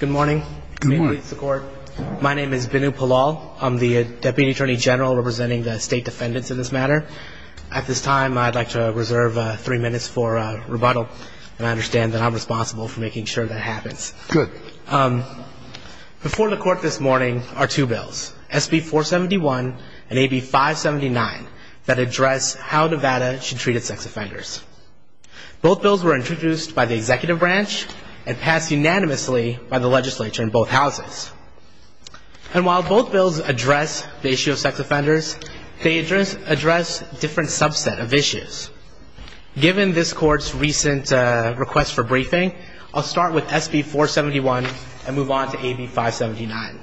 Good morning. My name is Binu Palal. I'm the Deputy Attorney General representing the state defendants in this matter. At this time, I'd like to reserve three minutes for rebuttal, and I understand that I'm responsible for making sure that happens. Good. Before the court this morning are two bills, SB 471 and AB 579, that address how Nevada should treat its sex offenders. Both bills were introduced by the executive branch and passed unanimously by the legislature in both houses. And while both bills address the issue of sex offenders, they address a different subset of issues. Given this court's recent request for briefing, I'll start with SB 471 and move on to AB 579.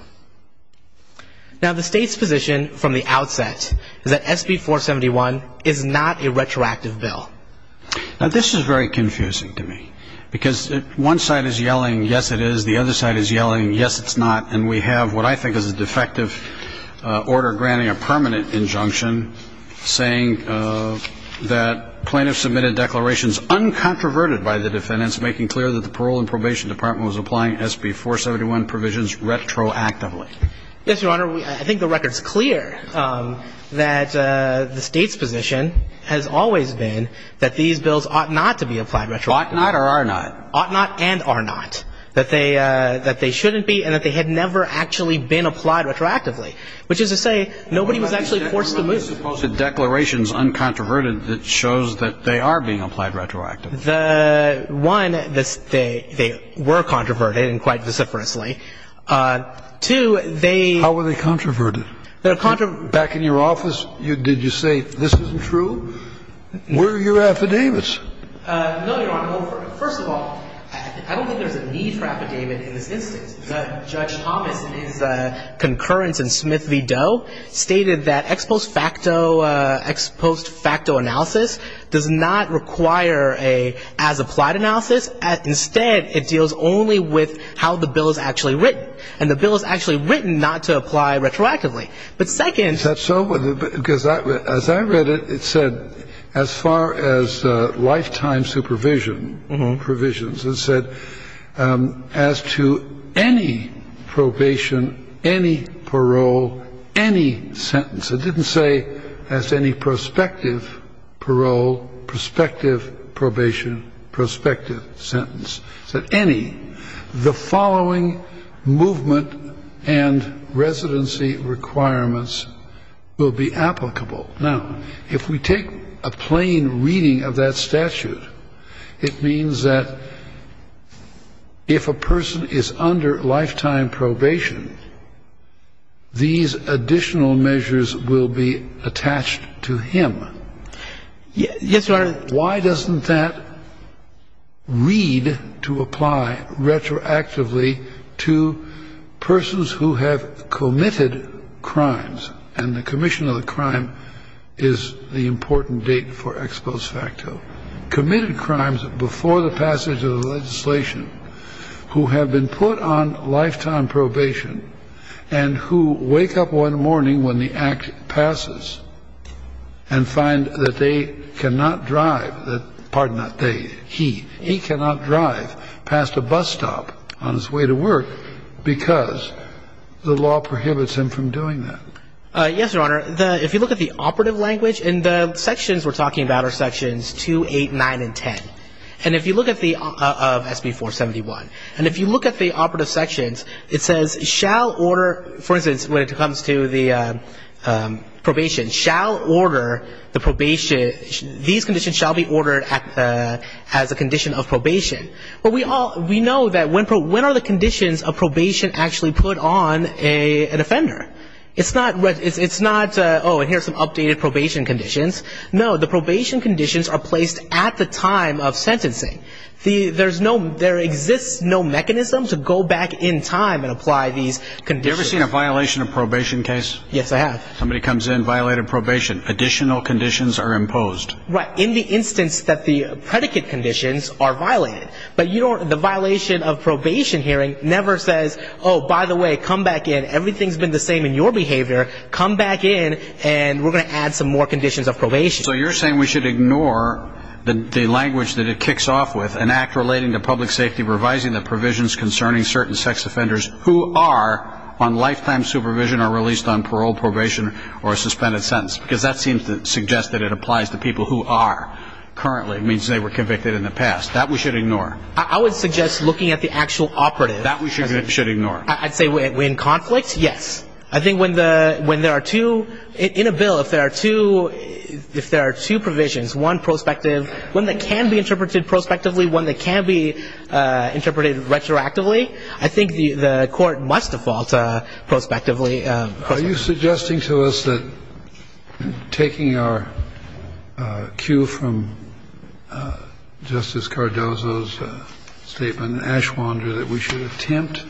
Now, the state's position from the outset is that SB 471 is not a retroactive bill. Now, this is very confusing to me, because one side is yelling, yes, it is, the other side is yelling, yes, it's not, and we have what I think is a defective order granting a permanent injunction saying that plaintiffs submitted declarations uncontroverted by the defendants making clear that the parole and probation department was applying SB 471 provisions retroactively. Yes, Your Honor. I think the record's clear that the state's position has always been that these bills ought not to be applied retroactively. Ought not or are not. Ought not and are not, that they shouldn't be and that they had never actually been applied retroactively, which is to say nobody was actually forced to move. Are there supposed to be declarations uncontroverted that shows that they are being applied retroactively? The one, they were controverted, and quite vociferously. Two, they… How were they controverted? They were controverted… Back in your office, did you say, this isn't true? Were you affidavits? No, Your Honor. Well, first of all, I don't think there's a need for affidavit in this instance. Judge Thomas, in his concurrence in Smith v. Doe, stated that ex post facto analysis does not require an as-applied analysis. Instead, it deals only with how the bill is actually written. And the bill is actually written not to apply retroactively. But second… Is that so? Because as I read it, it said, as far as lifetime supervision provisions, it said, as to any probation, any parole, any sentence. It didn't say, as to any prospective parole, prospective probation, prospective sentence. It said, any. The following movement and residency requirements will be applicable. Now, if we take a plain reading of that statute, it means that if a person is under lifetime probation, these additional measures will be attached to him. Yes, Your Honor. But why doesn't that read to apply retroactively to persons who have committed crimes? And the commission of the crime is the important date for ex post facto. Committed crimes before the passage of the legislation, who have been put on lifetime probation, and who wake up one morning when the act passes and find that they cannot drive, pardon that, he cannot drive past a bus stop on his way to work because the law prohibits him from doing that. Yes, Your Honor. If you look at the operative language, and the sections we're talking about are sections 2, 8, 9, and 10. And if you look at the SB 471. And if you look at the operative sections, it says shall order, for instance, when it comes to the probation, shall order the probation. These conditions shall be ordered as a condition of probation. But we know that when are the conditions of probation actually put on an offender? It's not, oh, and here's some updated probation conditions. No, the probation conditions are placed at the time of sentencing. There's no, there exists no mechanism to go back in time and apply these conditions. Have you ever seen a violation of probation case? Yes, I have. Somebody comes in, violated probation. Additional conditions are imposed. Right. In the instance that the predicate conditions are violated. But you don't, the violation of probation hearing never says, oh, by the way, come back in. Everything's been the same in your behavior. Come back in and we're going to add some more conditions of probation. So you're saying we should ignore the language that it kicks off with, an act relating to public safety revising the provisions concerning certain sex offenders who are on lifetime supervision or released on parole, probation, or a suspended sentence. Because that seems to suggest that it applies to people who are currently, it means they were convicted in the past. That we should ignore. I would suggest looking at the actual operative. That we should ignore. I'd say when in conflict, yes. I think when there are two, in a bill, if there are two provisions, one prospective, one that can be interpreted prospectively, one that can be interpreted retroactively, I think the court must default prospectively. Are you suggesting to us that taking our cue from Justice Cardozo's statement, that we should attempt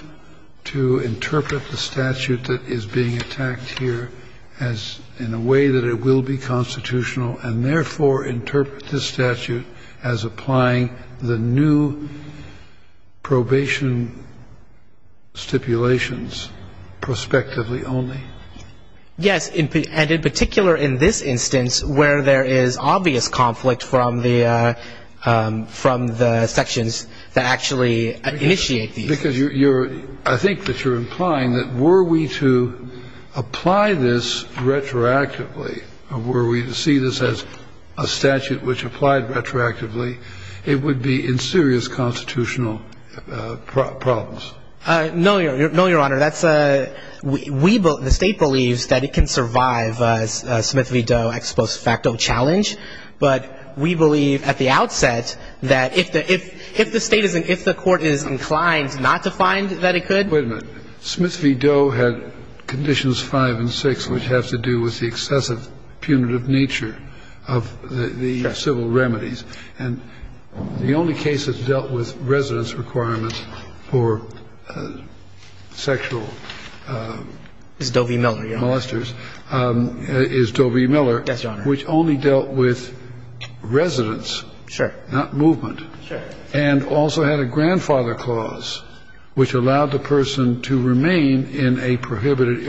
to interpret the statute that is being attacked here in a way that it will be constitutional, and therefore interpret this statute as applying the new probation stipulations prospectively only? Yes. And in particular in this instance, where there is obvious conflict from the sections that actually initiate these. Because I think that you're implying that were we to apply this retroactively, were we to see this as a statute which applied retroactively, it would be in serious constitutional problems. No, Your Honor. The State believes that it can survive a Smith v. Doe ex post facto challenge. But we believe at the outset that if the State isn't, if the court is inclined not to find that it could. Wait a minute. Smith v. Doe had conditions five and six, which have to do with the excessive punitive nature of the civil remedies. And the only case that's dealt with residence requirements for sexual molesters is Doe v. Miller, which only dealt with residence, not movement. Sure. And also had a grandfather clause which allowed the person to remain in a prohibited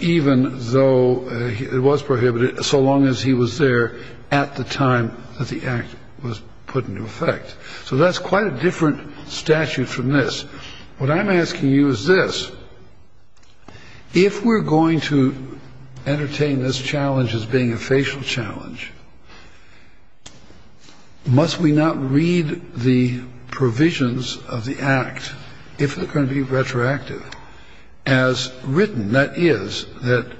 even though it was prohibited, so long as he was there at the time that the act was put into effect. So that's quite a different statute from this. What I'm asking you is this. If we're going to entertain this challenge as being a facial challenge, must we not read the provisions of the act, if they're going to be retroactive, as written, that is, that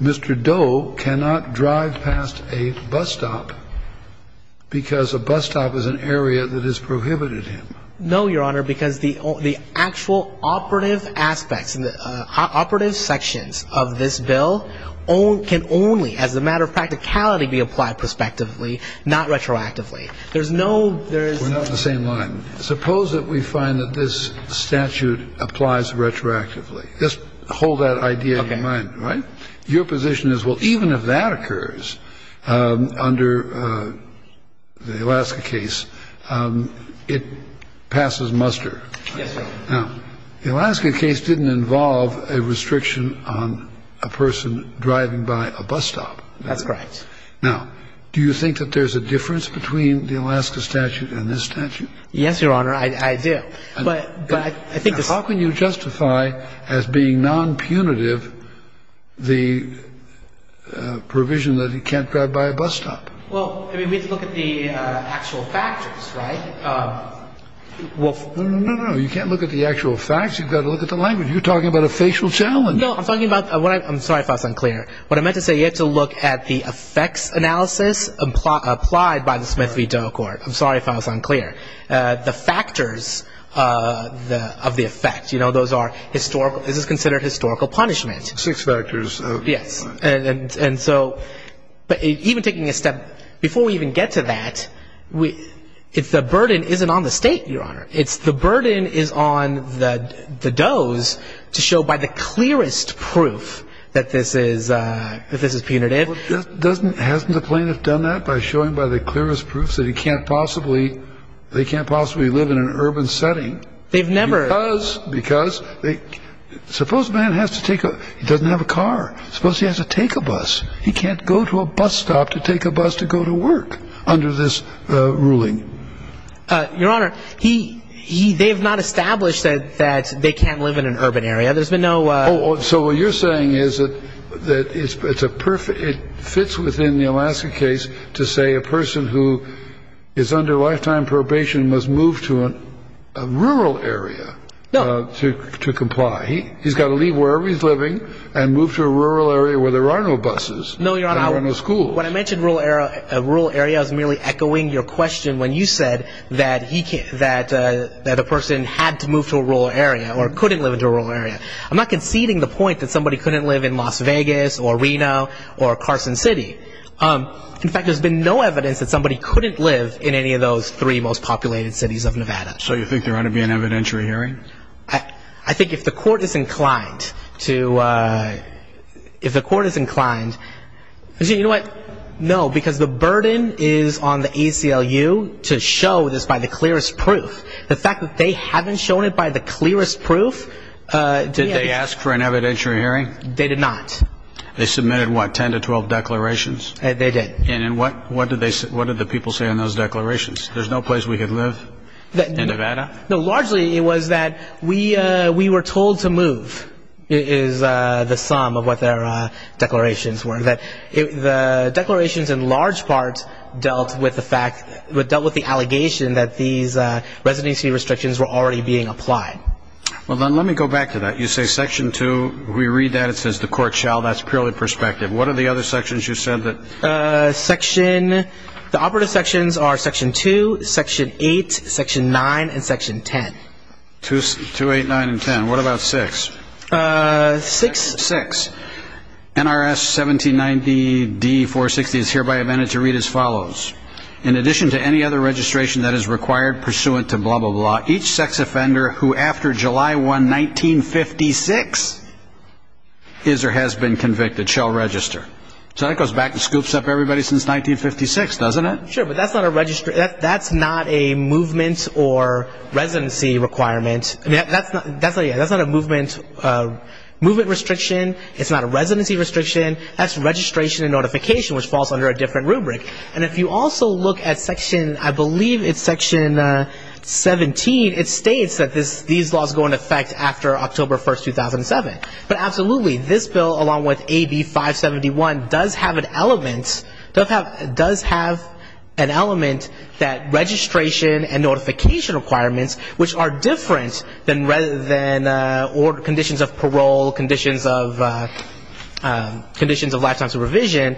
Mr. Doe cannot drive past a bus stop because a bus stop is an area that has prohibited him? No, Your Honor, because the actual operative aspects and the operative sections of this bill can only, as a matter of practicality, be applied prospectively, not retroactively. There's no ‑‑ We're not on the same line. Suppose that we find that this statute applies retroactively. Just hold that idea in mind, right? Okay. Your position is, well, even if that occurs under the Alaska case, it passes muster. Yes, Your Honor. Now, the Alaska case didn't involve a restriction on a person driving by a bus stop. That's correct. Now, do you think that there's a difference between the Alaska statute and this statute? Yes, Your Honor, I do. But I think the ‑‑ How can you justify as being nonpunitive the provision that he can't drive by a bus stop? Well, I mean, we have to look at the actual factors, right? No, no, no. You can't look at the actual facts. You've got to look at the language. You're talking about a facial challenge. No, I'm talking about ‑‑ I'm sorry if I was unclear. What I meant to say, you have to look at the effects analysis applied by the Smith v. Doe court. I'm sorry if I was unclear. The factors of the effect, you know, those are historical ‑‑ this is considered historical punishment. Six factors. Yes. But even taking a step ‑‑ before we even get to that, it's the burden isn't on the state, Your Honor. It's the burden is on the Does to show by the clearest proof that this is punitive. Hasn't the plaintiff done that by showing by the clearest proof that he can't possibly live in an urban setting? They've never ‑‑ Suppose a man has to take a ‑‑ he doesn't have a car. Suppose he has to take a bus. He can't go to a bus stop to take a bus to go to work under this ruling. Your Honor, they have not established that they can't live in an urban area. There's been no ‑‑ So what you're saying is that it fits within the Alaska case to say a person who is under lifetime probation must move to a rural area. No. To comply. He's got to leave wherever he's living and move to a rural area where there are no buses. No, Your Honor. And there are no schools. When I mentioned a rural area, I was merely echoing your question when you said that he can't ‑‑ that a person had to move to a rural area or couldn't live in a rural area. I'm not conceding the point that somebody couldn't live in Las Vegas or Reno or Carson City. In fact, there's been no evidence that somebody couldn't live in any of those three most populated cities of Nevada. So you think there ought to be an evidentiary hearing? I think if the court is inclined to ‑‑ if the court is inclined ‑‑ you know what? No, because the burden is on the ACLU to show this by the clearest proof. The fact that they haven't shown it by the clearest proof ‑‑ Did they ask for an evidentiary hearing? They did not. They submitted, what, 10 to 12 declarations? They did. And what did the people say in those declarations? There's no place we could live in Nevada? No, largely it was that we were told to move is the sum of what their declarations were. The declarations in large part dealt with the fact ‑‑ dealt with the allegation that these residency restrictions were already being applied. Well, then let me go back to that. You say Section 2, we read that, it says the court shall. That's purely perspective. What are the other sections you said that ‑‑ The operative sections are Section 2, Section 8, Section 9, and Section 10. 2, 8, 9, and 10. What about 6? 6. 6. NRS 1790D460 is hereby amended to read as follows. In addition to any other registration that is required pursuant to blah, blah, blah, each sex offender who after July 1, 1956, is or has been convicted shall register. So that goes back and scoops up everybody since 1956, doesn't it? Sure, but that's not a movement or residency requirement. That's not a movement restriction. It's not a residency restriction. That's registration and notification, which falls under a different rubric. And if you also look at Section, I believe it's Section 17, it states that these laws go into effect after October 1, 2007. But absolutely, this bill along with AB 571 does have an element that registration and notification requirements, which are different than conditions of parole, conditions of lifetime supervision,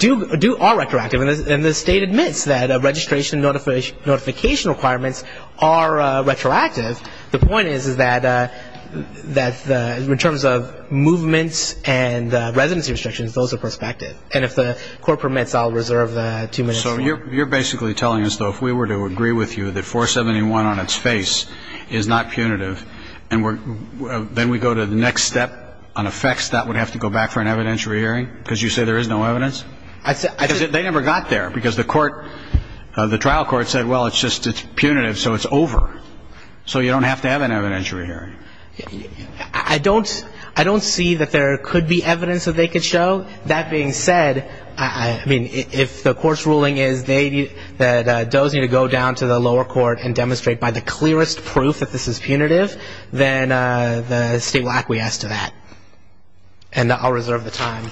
are retroactive. And the state admits that registration and notification requirements are retroactive. The point is that in terms of movements and residency restrictions, those are prospective. And if the Court permits, I'll reserve the two minutes. So you're basically telling us, though, if we were to agree with you that 471 on its face is not punitive and then we go to the next step on effects, that would have to go back for an evidentiary hearing? Because you say there is no evidence? They never got there because the trial court said, well, it's just punitive, so it's over. So you don't have to have an evidentiary hearing? I don't see that there could be evidence that they could show. That being said, I mean, if the Court's ruling is that those need to go down to the lower court and demonstrate by the clearest proof that this is punitive, then the state will acquiesce to that. And I'll reserve the time.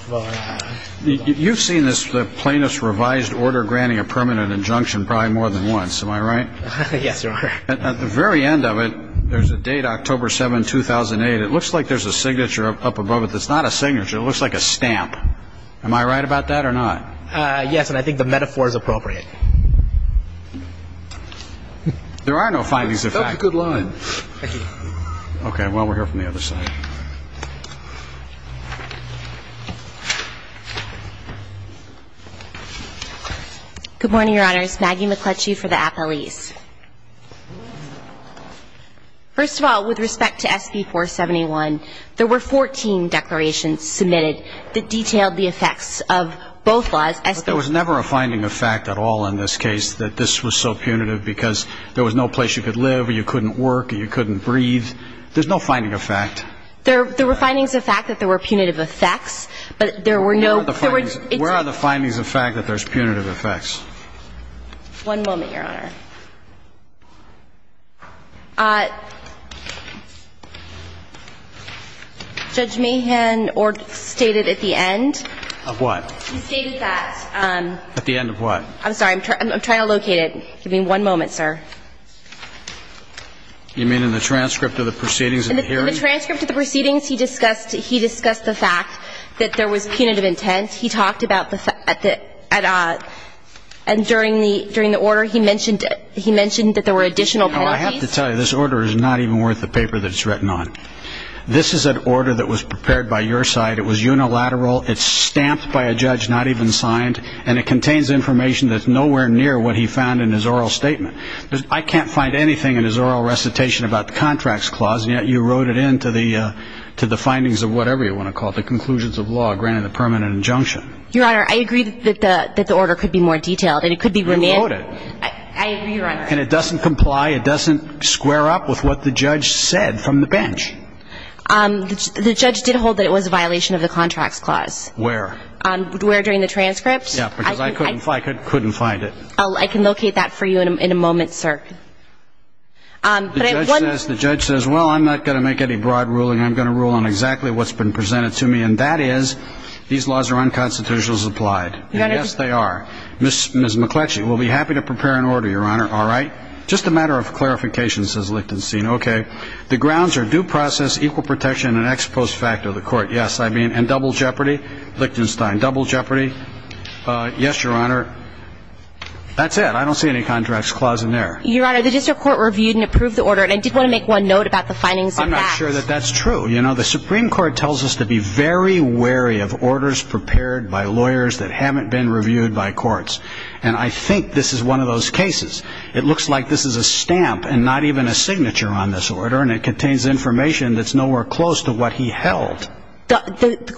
You've seen the plaintiff's revised order granting a permanent injunction probably more than once. Am I right? Yes, Your Honor. At the very end of it, there's a date, October 7, 2008. It looks like there's a signature up above it that's not a signature. It looks like a stamp. Am I right about that or not? Yes, and I think the metaphor is appropriate. There are no findings, in fact. That's a good line. Thank you. Okay. Well, we'll hear from the other side. Good morning, Your Honors. Maggie McCletchie for the appellees. First of all, with respect to SB 471, there were 14 declarations submitted that detailed the effects of both laws. There was never a finding of fact at all in this case that this was so punitive because there was no place you could live or you couldn't work or you couldn't breathe. There's no finding of fact. There were findings of fact that there were punitive effects, but there were no ‑‑ Where are the findings of fact that there's punitive effects? One moment, Your Honor. Judge Mahan stated at the end. Of what? He stated that. At the end of what? I'm sorry. I'm trying to locate it. Give me one moment, sir. You mean in the transcript of the proceedings in the hearing? In the transcript of the proceedings, he discussed the fact that there was punitive intent. He talked about the ‑‑ and during the order, he mentioned that there were additional penalties. I have to tell you, this order is not even worth the paper that it's written on. This is an order that was prepared by your side. It was unilateral. It's stamped by a judge, not even signed, and it contains information that's nowhere near what he found in his oral statement. I can't find anything in his oral recitation about the contracts clause, and yet you wrote it into the findings of whatever you want to call it, the conclusions of law, granted the permanent injunction. Your Honor, I agree that the order could be more detailed, and it could be ‑‑ You wrote it. I agree, Your Honor. And it doesn't comply, it doesn't square up with what the judge said from the bench. The judge did hold that it was a violation of the contracts clause. Where? Where during the transcript. I can locate that for you in a moment, sir. The judge says, well, I'm not going to make any broad ruling. I'm going to rule on exactly what's been presented to me, and that is these laws are unconstitutional as applied. Yes, they are. Ms. McCletchie, we'll be happy to prepare an order, Your Honor. All right. Just a matter of clarification, says Lichtenstein. Okay. The grounds are due process, equal protection, and ex post facto. The court, yes, I mean, and double jeopardy. Lichtenstein, double jeopardy. Yes, Your Honor. That's it. I don't see any contracts clause in there. Your Honor, the district court reviewed and approved the order, and I did want to make one note about the findings of that. I'm not sure that that's true. You know, the Supreme Court tells us to be very wary of orders prepared by lawyers that haven't been reviewed by courts, and I think this is one of those cases. It looks like this is a stamp and not even a signature on this order, and it contains information that's nowhere close to what he held. The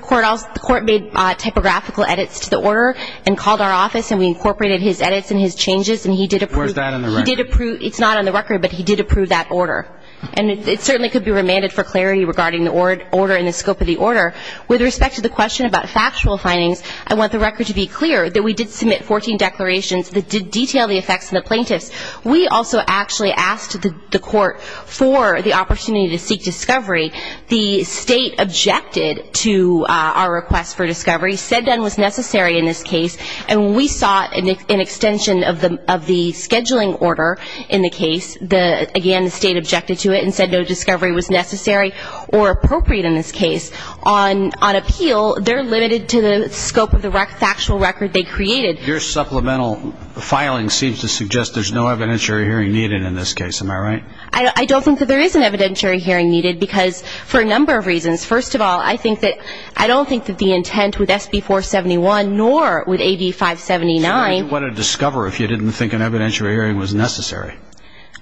court made typographical edits to the order and called our office, and we incorporated his edits and his changes, and he did approve them. Where's that on the record? It's not on the record, but he did approve that order, and it certainly could be remanded for clarity regarding the order and the scope of the order. With respect to the question about factual findings, I want the record to be clear that we did submit 14 declarations that did detail the effects on the plaintiffs. We also actually asked the court for the opportunity to seek discovery. The State objected to our request for discovery, said none was necessary in this case, and we sought an extension of the scheduling order in the case. Again, the State objected to it and said no discovery was necessary or appropriate in this case. On appeal, they're limited to the scope of the factual record they created. Your supplemental filing seems to suggest there's no evidentiary hearing needed in this case. Am I right? I don't think that there is an evidentiary hearing needed because for a number of reasons. First of all, I don't think that the intent with SB-471 nor with AB-579. What a discover if you didn't think an evidentiary hearing was necessary.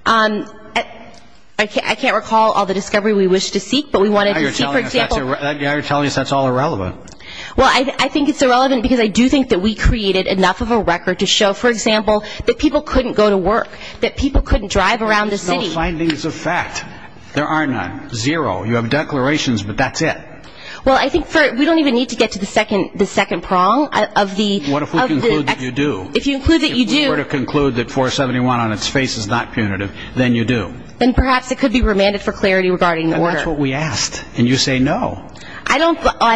I can't recall all the discovery we wished to seek, but we wanted to seek, for example. Now you're telling us that's all irrelevant. Well, I think it's irrelevant because I do think that we created enough of a record to show, for example, that people couldn't go to work, that people couldn't drive around the city. There are no findings of fact. There are none. Zero. You have declarations, but that's it. Well, I think we don't even need to get to the second prong. What if we conclude that you do? If you include that you do. If we were to conclude that 471 on its face is not punitive, then you do. Then perhaps it could be remanded for clarity regarding the order. And that's what we asked, and you say no. I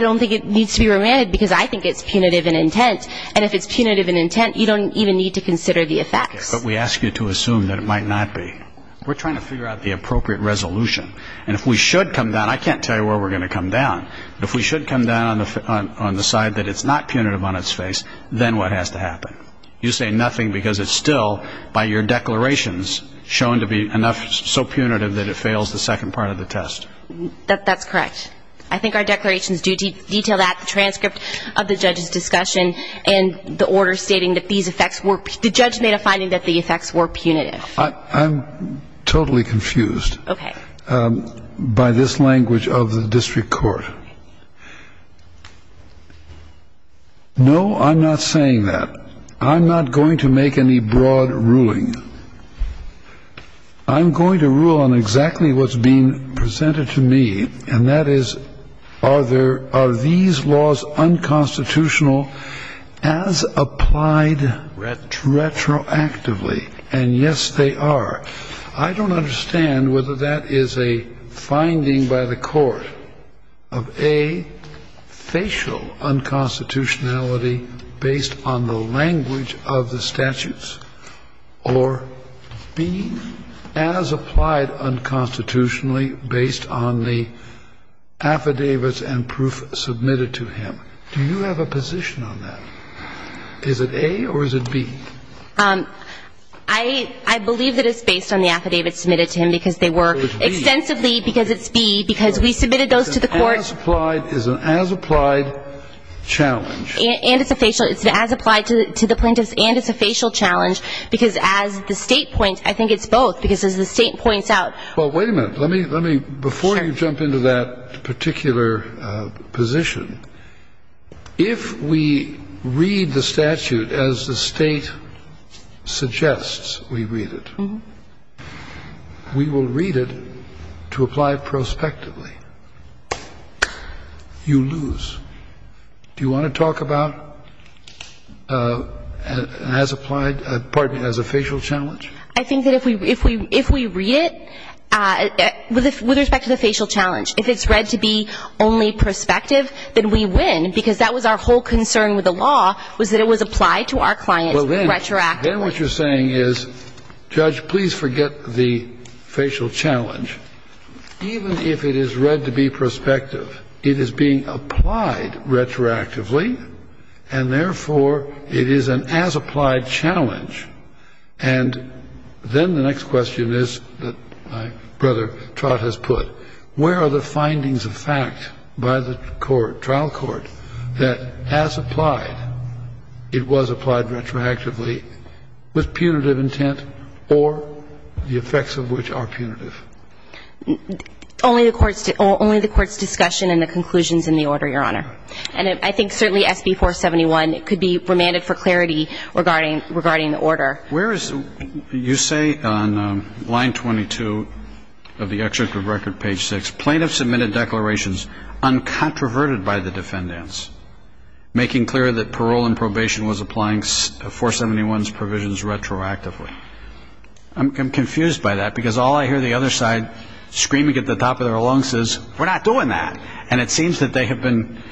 don't think it needs to be remanded because I think it's punitive in intent, and if it's punitive in intent, you don't even need to consider the effects. But we ask you to assume that it might not be. We're trying to figure out the appropriate resolution, and if we should come down, I can't tell you where we're going to come down, but if we should come down on the side that it's not punitive on its face, then what has to happen? You say nothing because it's still, by your declarations, shown to be enough so punitive that it fails the second part of the test. That's correct. I think our declarations do detail that transcript of the judge's discussion and the order stating that these effects were punitive. The judge made a finding that the effects were punitive. I'm totally confused. Okay. By this language of the district court. No, I'm not saying that. I'm not going to make any broad ruling. I'm going to rule on exactly what's being presented to me, and that is are these laws unconstitutional as applied retroactively? And, yes, they are. I don't understand whether that is a finding by the court of, A, facial unconstitutionality based on the language of the statutes, or, B, as applied unconstitutionally based on the affidavits and proof submitted to him. Do you have a position on that? Is it A or is it B? I believe that it's based on the affidavits submitted to him, because they were extensively, because it's B, because we submitted those to the court. As applied is an as applied challenge. And it's a facial. It's as applied to the plaintiffs, and it's a facial challenge, because as the State points, I think it's both, because as the State points out. Well, wait a minute. Let me, before you jump into that particular position, if we read the statute as the State suggests we read it, we will read it to apply prospectively. You lose. Do you want to talk about as applied, pardon me, as a facial challenge? I think that if we read it, with respect to the facial challenge, if it's read to be only prospective, then we win, because that was our whole concern with the law, was that it was applied to our client retroactively. Then what you're saying is, Judge, please forget the facial challenge. Even if it is read to be prospective, it is being applied retroactively, and therefore it is an as applied challenge. And then the next question is, that my brother Trott has put, where are the findings of fact by the court, trial court, that as applied, it was applied retroactively with punitive intent or the effects of which are punitive? Only the court's discussion and the conclusions in the order, Your Honor. And I think certainly SB 471 could be remanded for clarity regarding the order. You say on line 22 of the executive record, page 6, plaintiffs submitted declarations uncontroverted by the defendants, making clear that parole and probation was applying 471's provisions retroactively. I'm confused by that, because all I hear the other side screaming at the top of their lungs is, we're not doing that. And it seems that they have been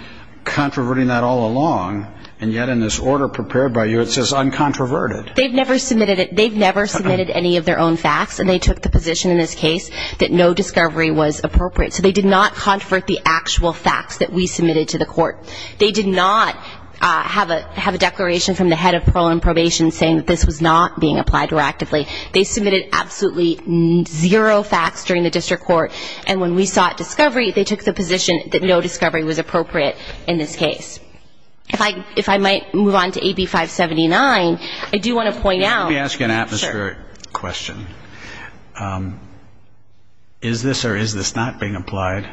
controverting that all along, and yet in this order prepared by you it says uncontroverted. They've never submitted it. They've never submitted any of their own facts, and they took the position in this case that no discovery was appropriate. So they did not controvert the actual facts that we submitted to the court. They did not have a declaration from the head of parole and probation saying that this was not being applied retroactively. They submitted absolutely zero facts during the district court, and when we sought discovery, they took the position that no discovery was appropriate in this case. If I might move on to AB579, I do want to point out. Let me ask you an atmospheric question. Is this or is this not being applied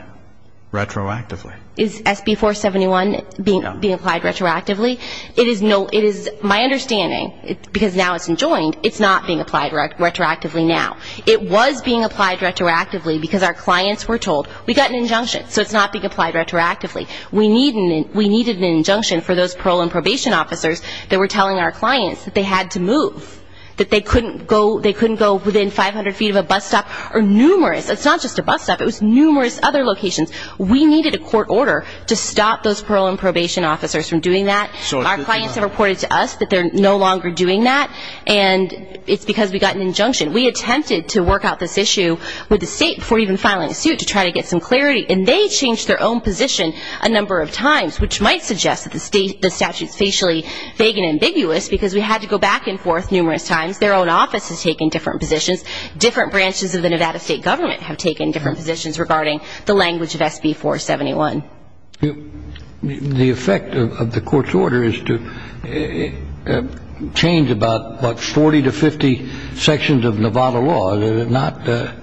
retroactively? Is SB471 being applied retroactively? It is my understanding, because now it's enjoined, it's not being applied retroactively now. It was being applied retroactively because our clients were told, we got an injunction, so it's not being applied retroactively. We needed an injunction for those parole and probation officers that were telling our clients that they had to move, that they couldn't go within 500 feet of a bus stop or numerous. It's not just a bus stop. It was numerous other locations. We needed a court order to stop those parole and probation officers from doing that. Our clients have reported to us that they're no longer doing that, and it's because we got an injunction. We attempted to work out this issue with the state before even filing a suit to try to get some clarity, and they changed their own position a number of times, which might suggest that the statute is facially vague and ambiguous because we had to go back and forth numerous times. Their own office has taken different positions. Different branches of the Nevada state government have taken different positions regarding the language of SB471. The effect of the court's order is to change about 40 to 50 sections of Nevada law.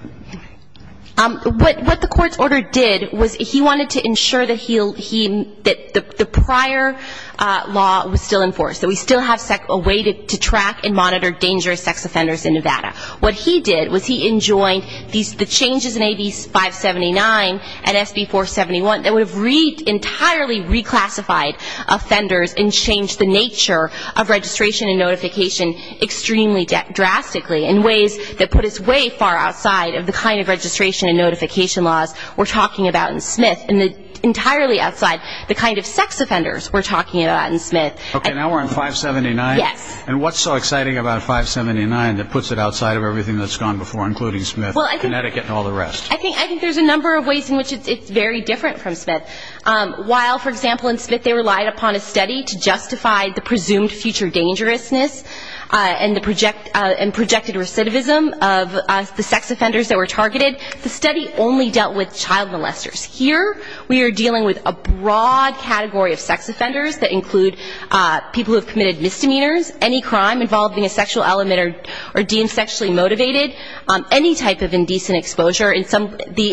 What the court's order did was he wanted to ensure that the prior law was still enforced, that we still have a way to track and monitor dangerous sex offenders in Nevada. What he did was he enjoined the changes in AB579 and SB471 that would have entirely reclassified offenders and changed the nature of registration and notification extremely drastically in ways that put us way far outside of the kind of registration and notification laws we're talking about in Smith and entirely outside the kind of sex offenders we're talking about in Smith. Okay, now we're on 579. Yes. And what's so exciting about 579 that puts it outside of everything that's gone before, including Smith and Connecticut and all the rest? I think there's a number of ways in which it's very different from Smith. While, for example, in Smith they relied upon a study to justify the presumed future dangerousness and projected recidivism of the sex offenders that were targeted, the study only dealt with child molesters. Here we are dealing with a broad category of sex offenders that include people who have committed misdemeanors, any crime involving a sexual element or deemed sexually motivated, any type of indecent exposure. In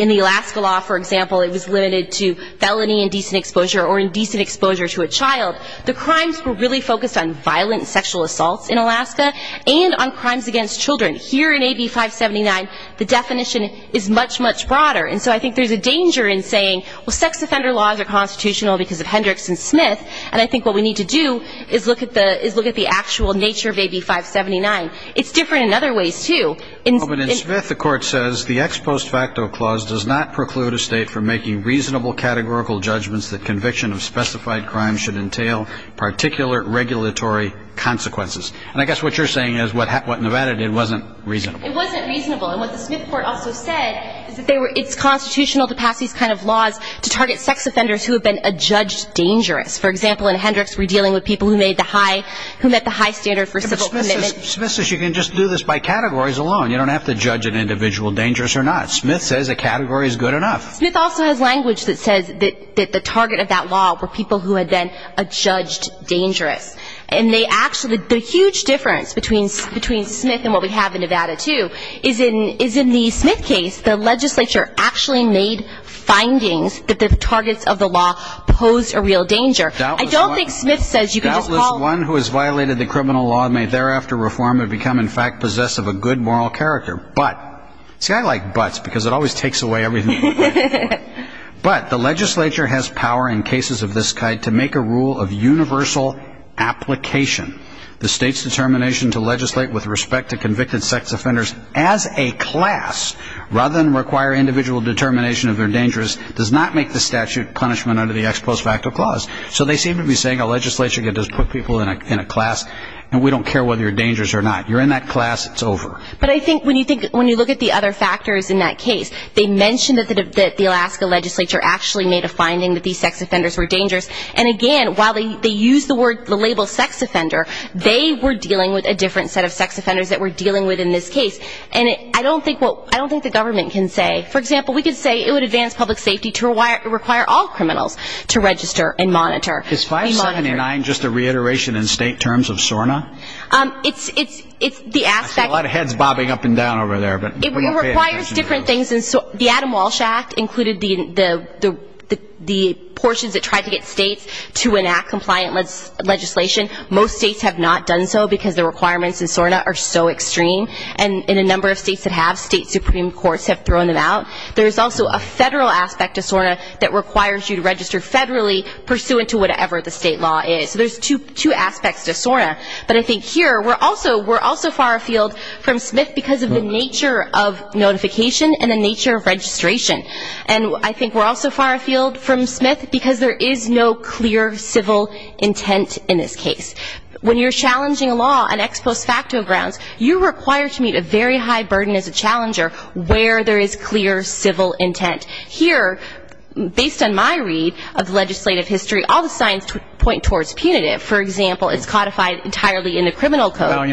the Alaska law, for example, it was limited to felony indecent exposure or indecent exposure to a child. The crimes were really focused on violent sexual assaults in Alaska and on crimes against children. Here in AB 579 the definition is much, much broader. And so I think there's a danger in saying, well, sex offender laws are constitutional because of Hendricks and Smith, and I think what we need to do is look at the actual nature of AB 579. It's different in other ways, too. But in Smith the court says, the ex post facto clause does not preclude a state from making reasonable categorical judgments that conviction of specified crimes should entail particular regulatory consequences. And I guess what you're saying is what Nevada did wasn't reasonable. It wasn't reasonable. And what the Smith court also said is that it's constitutional to pass these kind of laws to target sex offenders who have been adjudged dangerous. For example, in Hendricks we're dealing with people who met the high standard for civil commitment. Smith says you can just do this by categories alone. You don't have to judge an individual dangerous or not. Smith says a category is good enough. Smith also has language that says that the target of that law were people who had been adjudged dangerous. And they actually, the huge difference between Smith and what we have in Nevada, too, is in the Smith case the legislature actually made findings that the targets of the law posed a real danger. I don't think Smith says you can just call. Doubtless one who has violated the criminal law may thereafter reform and become in fact possessed of a good moral character. See, I like buts because it always takes away everything. But the legislature has power in cases of this kind to make a rule of universal application. The state's determination to legislate with respect to convicted sex offenders as a class, rather than require individual determination of they're dangerous, does not make the statute punishment under the ex post facto clause. So they seem to be saying a legislature can just put people in a class and we don't care whether you're dangerous or not. You're in that class, it's over. But I think when you look at the other factors in that case, they mention that the Alaska legislature actually made a finding that these sex offenders were dangerous. And again, while they use the label sex offender, they were dealing with a different set of sex offenders that we're dealing with in this case. And I don't think the government can say. For example, we could say it would advance public safety to require all criminals to register and monitor. Is 579 just a reiteration in state terms of SORNA? It's the aspect. I see a lot of heads bobbing up and down over there. It requires different things. The Adam Walsh Act included the portions that tried to get states to enact compliant legislation. Most states have not done so because the requirements in SORNA are so extreme. And in a number of states that have, state supreme courts have thrown them out. There's also a federal aspect to SORNA that requires you to register federally, pursuant to whatever the state law is. So there's two aspects to SORNA. But I think here we're also far afield from Smith because of the nature of notification and the nature of registration. And I think we're also far afield from Smith because there is no clear civil intent in this case. When you're challenging a law on ex post facto grounds, you're required to meet a very high burden as a challenger where there is clear civil intent. Here, based on my read of legislative history, all the signs point towards punitive. For example, it's codified entirely in the criminal code.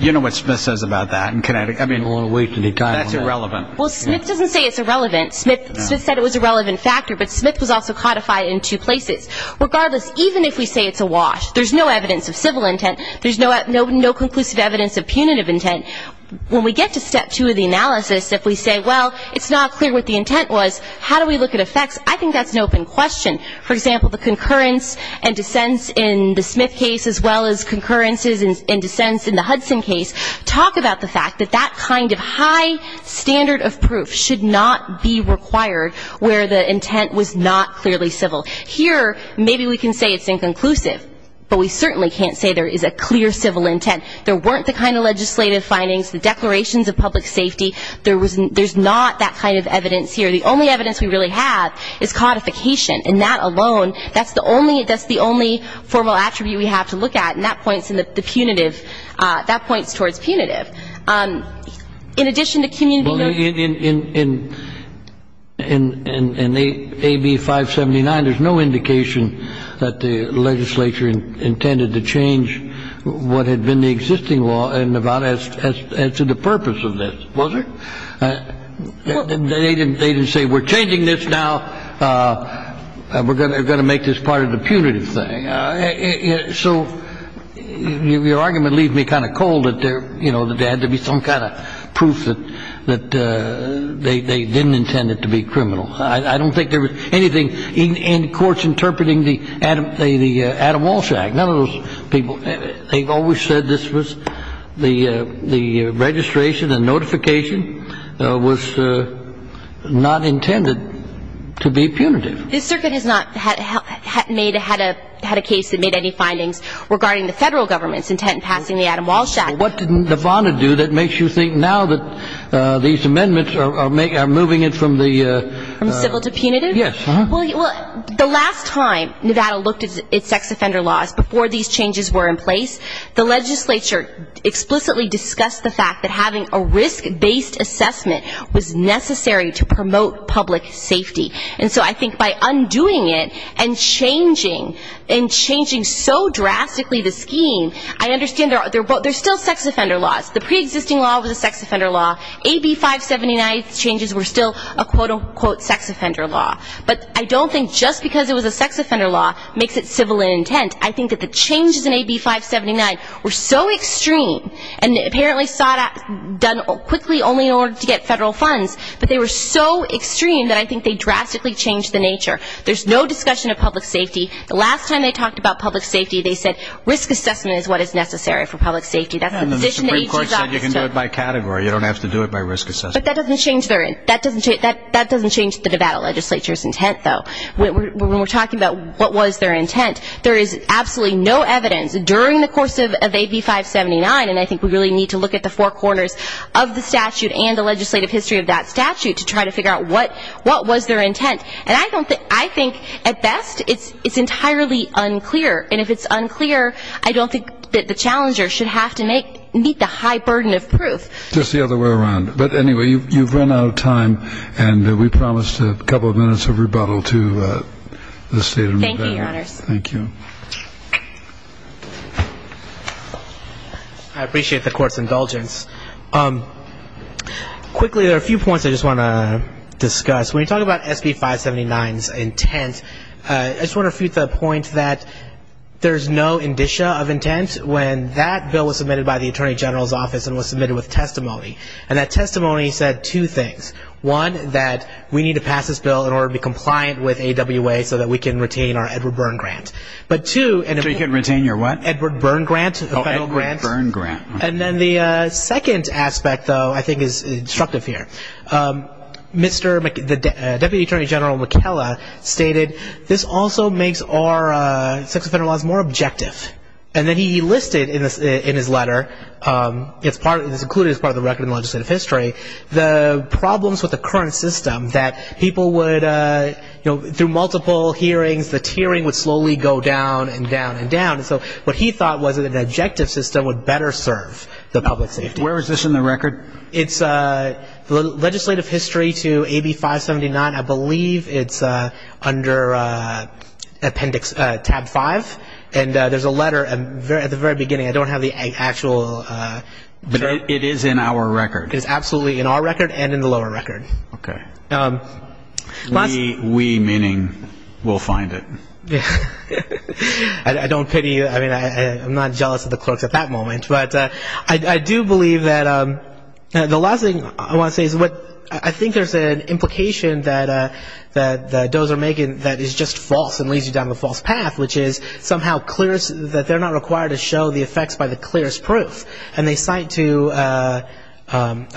You know what Smith says about that in Connecticut. I mean, that's irrelevant. Well, Smith doesn't say it's irrelevant. Smith said it was a relevant factor, but Smith was also codified in two places. Regardless, even if we say it's a wash, there's no evidence of civil intent. There's no conclusive evidence of punitive intent. When we get to step two of the analysis, if we say, well, it's not clear what the intent was, how do we look at effects, I think that's an open question. For example, the concurrence and dissents in the Smith case, as well as concurrences and dissents in the Hudson case, talk about the fact that that kind of high standard of proof should not be required where the intent was not clearly civil. Here, maybe we can say it's inconclusive, but we certainly can't say there is a clear civil intent. There weren't the kind of legislative findings, the declarations of public safety. There's not that kind of evidence here. The only evidence we really have is codification, and that alone, that's the only formal attribute we have to look at, and that points towards punitive. In addition to community- In AB 579, there's no indication that the legislature intended to change what had been the existing law in Nevada as to the purpose of this. Was there? They didn't say we're changing this now. We're going to make this part of the punitive thing. So your argument leaves me kind of cold that there, you know, that there had to be some kind of proof that they didn't intend it to be criminal. I don't think there was anything in courts interpreting the Adam Walsh Act. None of those people. They've always said this was the registration and notification was not intended to be punitive. This circuit has not had a case that made any findings regarding the federal government's intent in passing the Adam Walsh Act. What did Nevada do that makes you think now that these amendments are moving it from the- From civil to punitive? Yes. Well, the last time Nevada looked at sex offender laws, before these changes were in place, the legislature explicitly discussed the fact that having a risk-based assessment was necessary to promote public safety. And so I think by undoing it and changing, and changing so drastically the scheme, I understand there are still sex offender laws. The pre-existing law was a sex offender law. AB 579 changes were still a quote-unquote sex offender law. But I don't think just because it was a sex offender law makes it civil in intent. I think that the changes in AB 579 were so extreme, and apparently saw it done quickly only in order to get federal funds, but they were so extreme that I think they drastically changed the nature. There's no discussion of public safety. The last time they talked about public safety, they said risk assessment is what is necessary for public safety. The Supreme Court said you can do it by category. You don't have to do it by risk assessment. But that doesn't change the Nevada legislature's intent, though. When we're talking about what was their intent, there is absolutely no evidence during the course of AB 579, and I think we really need to look at the four corners of the statute and the legislative history of that statute to try to figure out what was their intent. And I think at best it's entirely unclear, and if it's unclear, I don't think that the challenger should have to meet the high burden of proof. Just the other way around. But anyway, you've run out of time, and we promised a couple of minutes of rebuttal to the State of Nevada. Thank you, Your Honors. Thank you. I appreciate the Court's indulgence. Quickly, there are a few points I just want to discuss. When you talk about SB 579's intent, I just want to refute the point that there's no indicia of intent when that bill was submitted by the Attorney General's Office and was submitted with testimony, and that testimony said two things. One, that we need to pass this bill in order to be compliant with AWA so that we can retain our Edward Byrne grant. So you can retain your what? Edward Byrne grant, the federal grant. Oh, Edward Byrne grant. And then the second aspect, though, I think is instructive here. Deputy Attorney General McKella stated, this also makes our sex offender laws more objective. And then he listed in his letter, this is included as part of the record in the legislative history, the problems with the current system that people would, through multiple hearings, the tiering would slowly go down and down and down. So what he thought was that an objective system would better serve the public safety. Where is this in the record? It's legislative history to AB 579. I believe it's under appendix, tab five. And there's a letter at the very beginning. I don't have the actual. It is in our record. It is absolutely in our record and in the lower record. Okay. We, meaning we'll find it. I don't pity you. I mean, I'm not jealous of the clerks at that moment. But I do believe that the last thing I want to say is I think there's an implication that those are making that is just false and leads you down the false path, which is somehow that they're not required to show the effects by the clearest proof. And they cite to a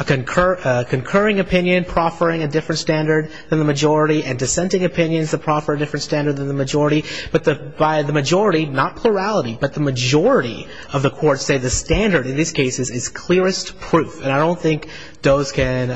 concurring opinion proffering a different standard than the majority and dissenting opinions that proffer a different standard than the majority. But by the majority, not plurality, but the majority of the courts say the standard in these cases is clearest proof. And I don't think Doe's can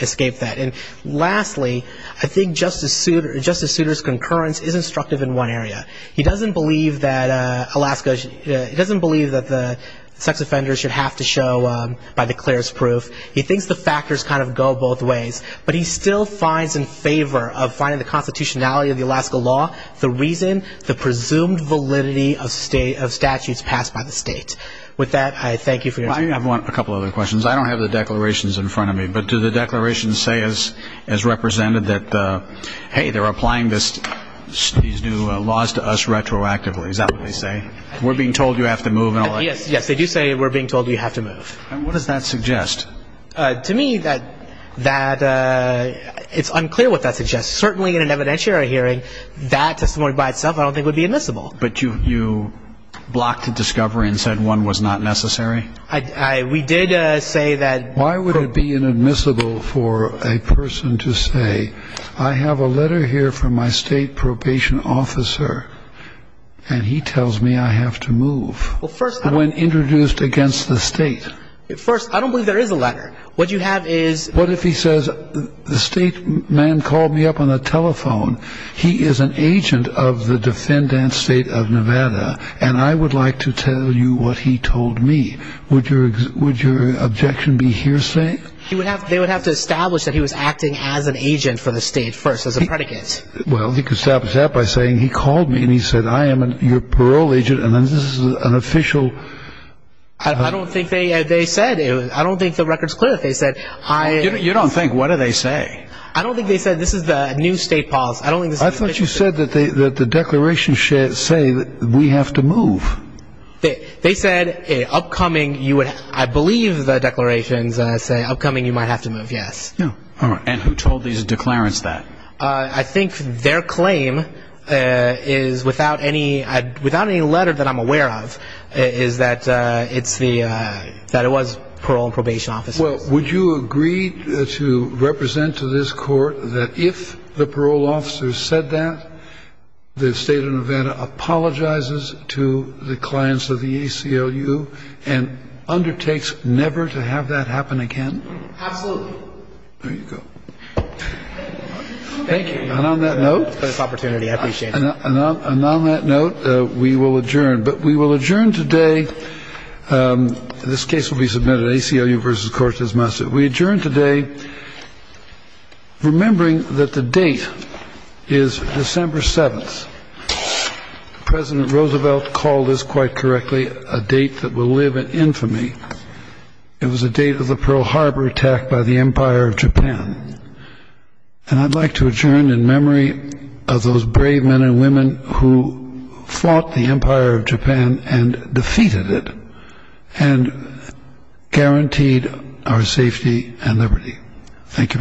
escape that. And lastly, I think Justice Souter's concurrence is instructive in one area. He doesn't believe that the sex offenders should have to show by the clearest proof. He thinks the factors kind of go both ways. But he still finds in favor of finding the constitutionality of the Alaska law the reason, the presumed validity of statutes passed by the state. With that, I thank you for your time. I have a couple other questions. I don't have the declarations in front of me. But do the declarations say as represented that, hey, they're applying these new laws to us retroactively. Is that what they say? We're being told you have to move. Yes, they do say we're being told you have to move. What does that suggest? To me, it's unclear what that suggests. Certainly in an evidentiary hearing, that testimony by itself I don't think would be admissible. But you blocked the discovery and said one was not necessary? We did say that. Why would it be inadmissible for a person to say I have a letter here from my state probation officer, and he tells me I have to move when introduced against the state? First, I don't believe there is a letter. What you have is the state man called me up on the telephone. He is an agent of the defendant state of Nevada, and I would like to tell you what he told me. Would your objection be hearsay? They would have to establish that he was acting as an agent for the state first, as a predicate. Well, he could establish that by saying he called me and he said I am your parole agent, and this is an official. I don't think they said it. I don't think the record is clear that they said I am. You don't think? What did they say? I don't think they said this is the new state policy. I don't think this is official. I thought you said that the declarations say that we have to move. They said upcoming, I believe the declarations say upcoming you might have to move, yes. And who told these declarants that? I think their claim is without any letter that I'm aware of is that it was parole and probation officers. Well, would you agree to represent to this court that if the parole officer said that, the state of Nevada apologizes to the clients of the ACLU and undertakes never to have that happen again? Absolutely. There you go. Thank you. And on that note. Great opportunity. I appreciate it. And on that note, we will adjourn. But we will adjourn today. This case will be submitted. ACLU versus Cortez Massa. We adjourn today remembering that the date is December 7th. President Roosevelt called this, quite correctly, a date that will live in infamy. It was a date of the Pearl Harbor attack by the Empire of Japan. And I'd like to adjourn in memory of those brave men and women who fought the Empire of Japan and defeated it and guaranteed our safety and liberty. Thank you very much.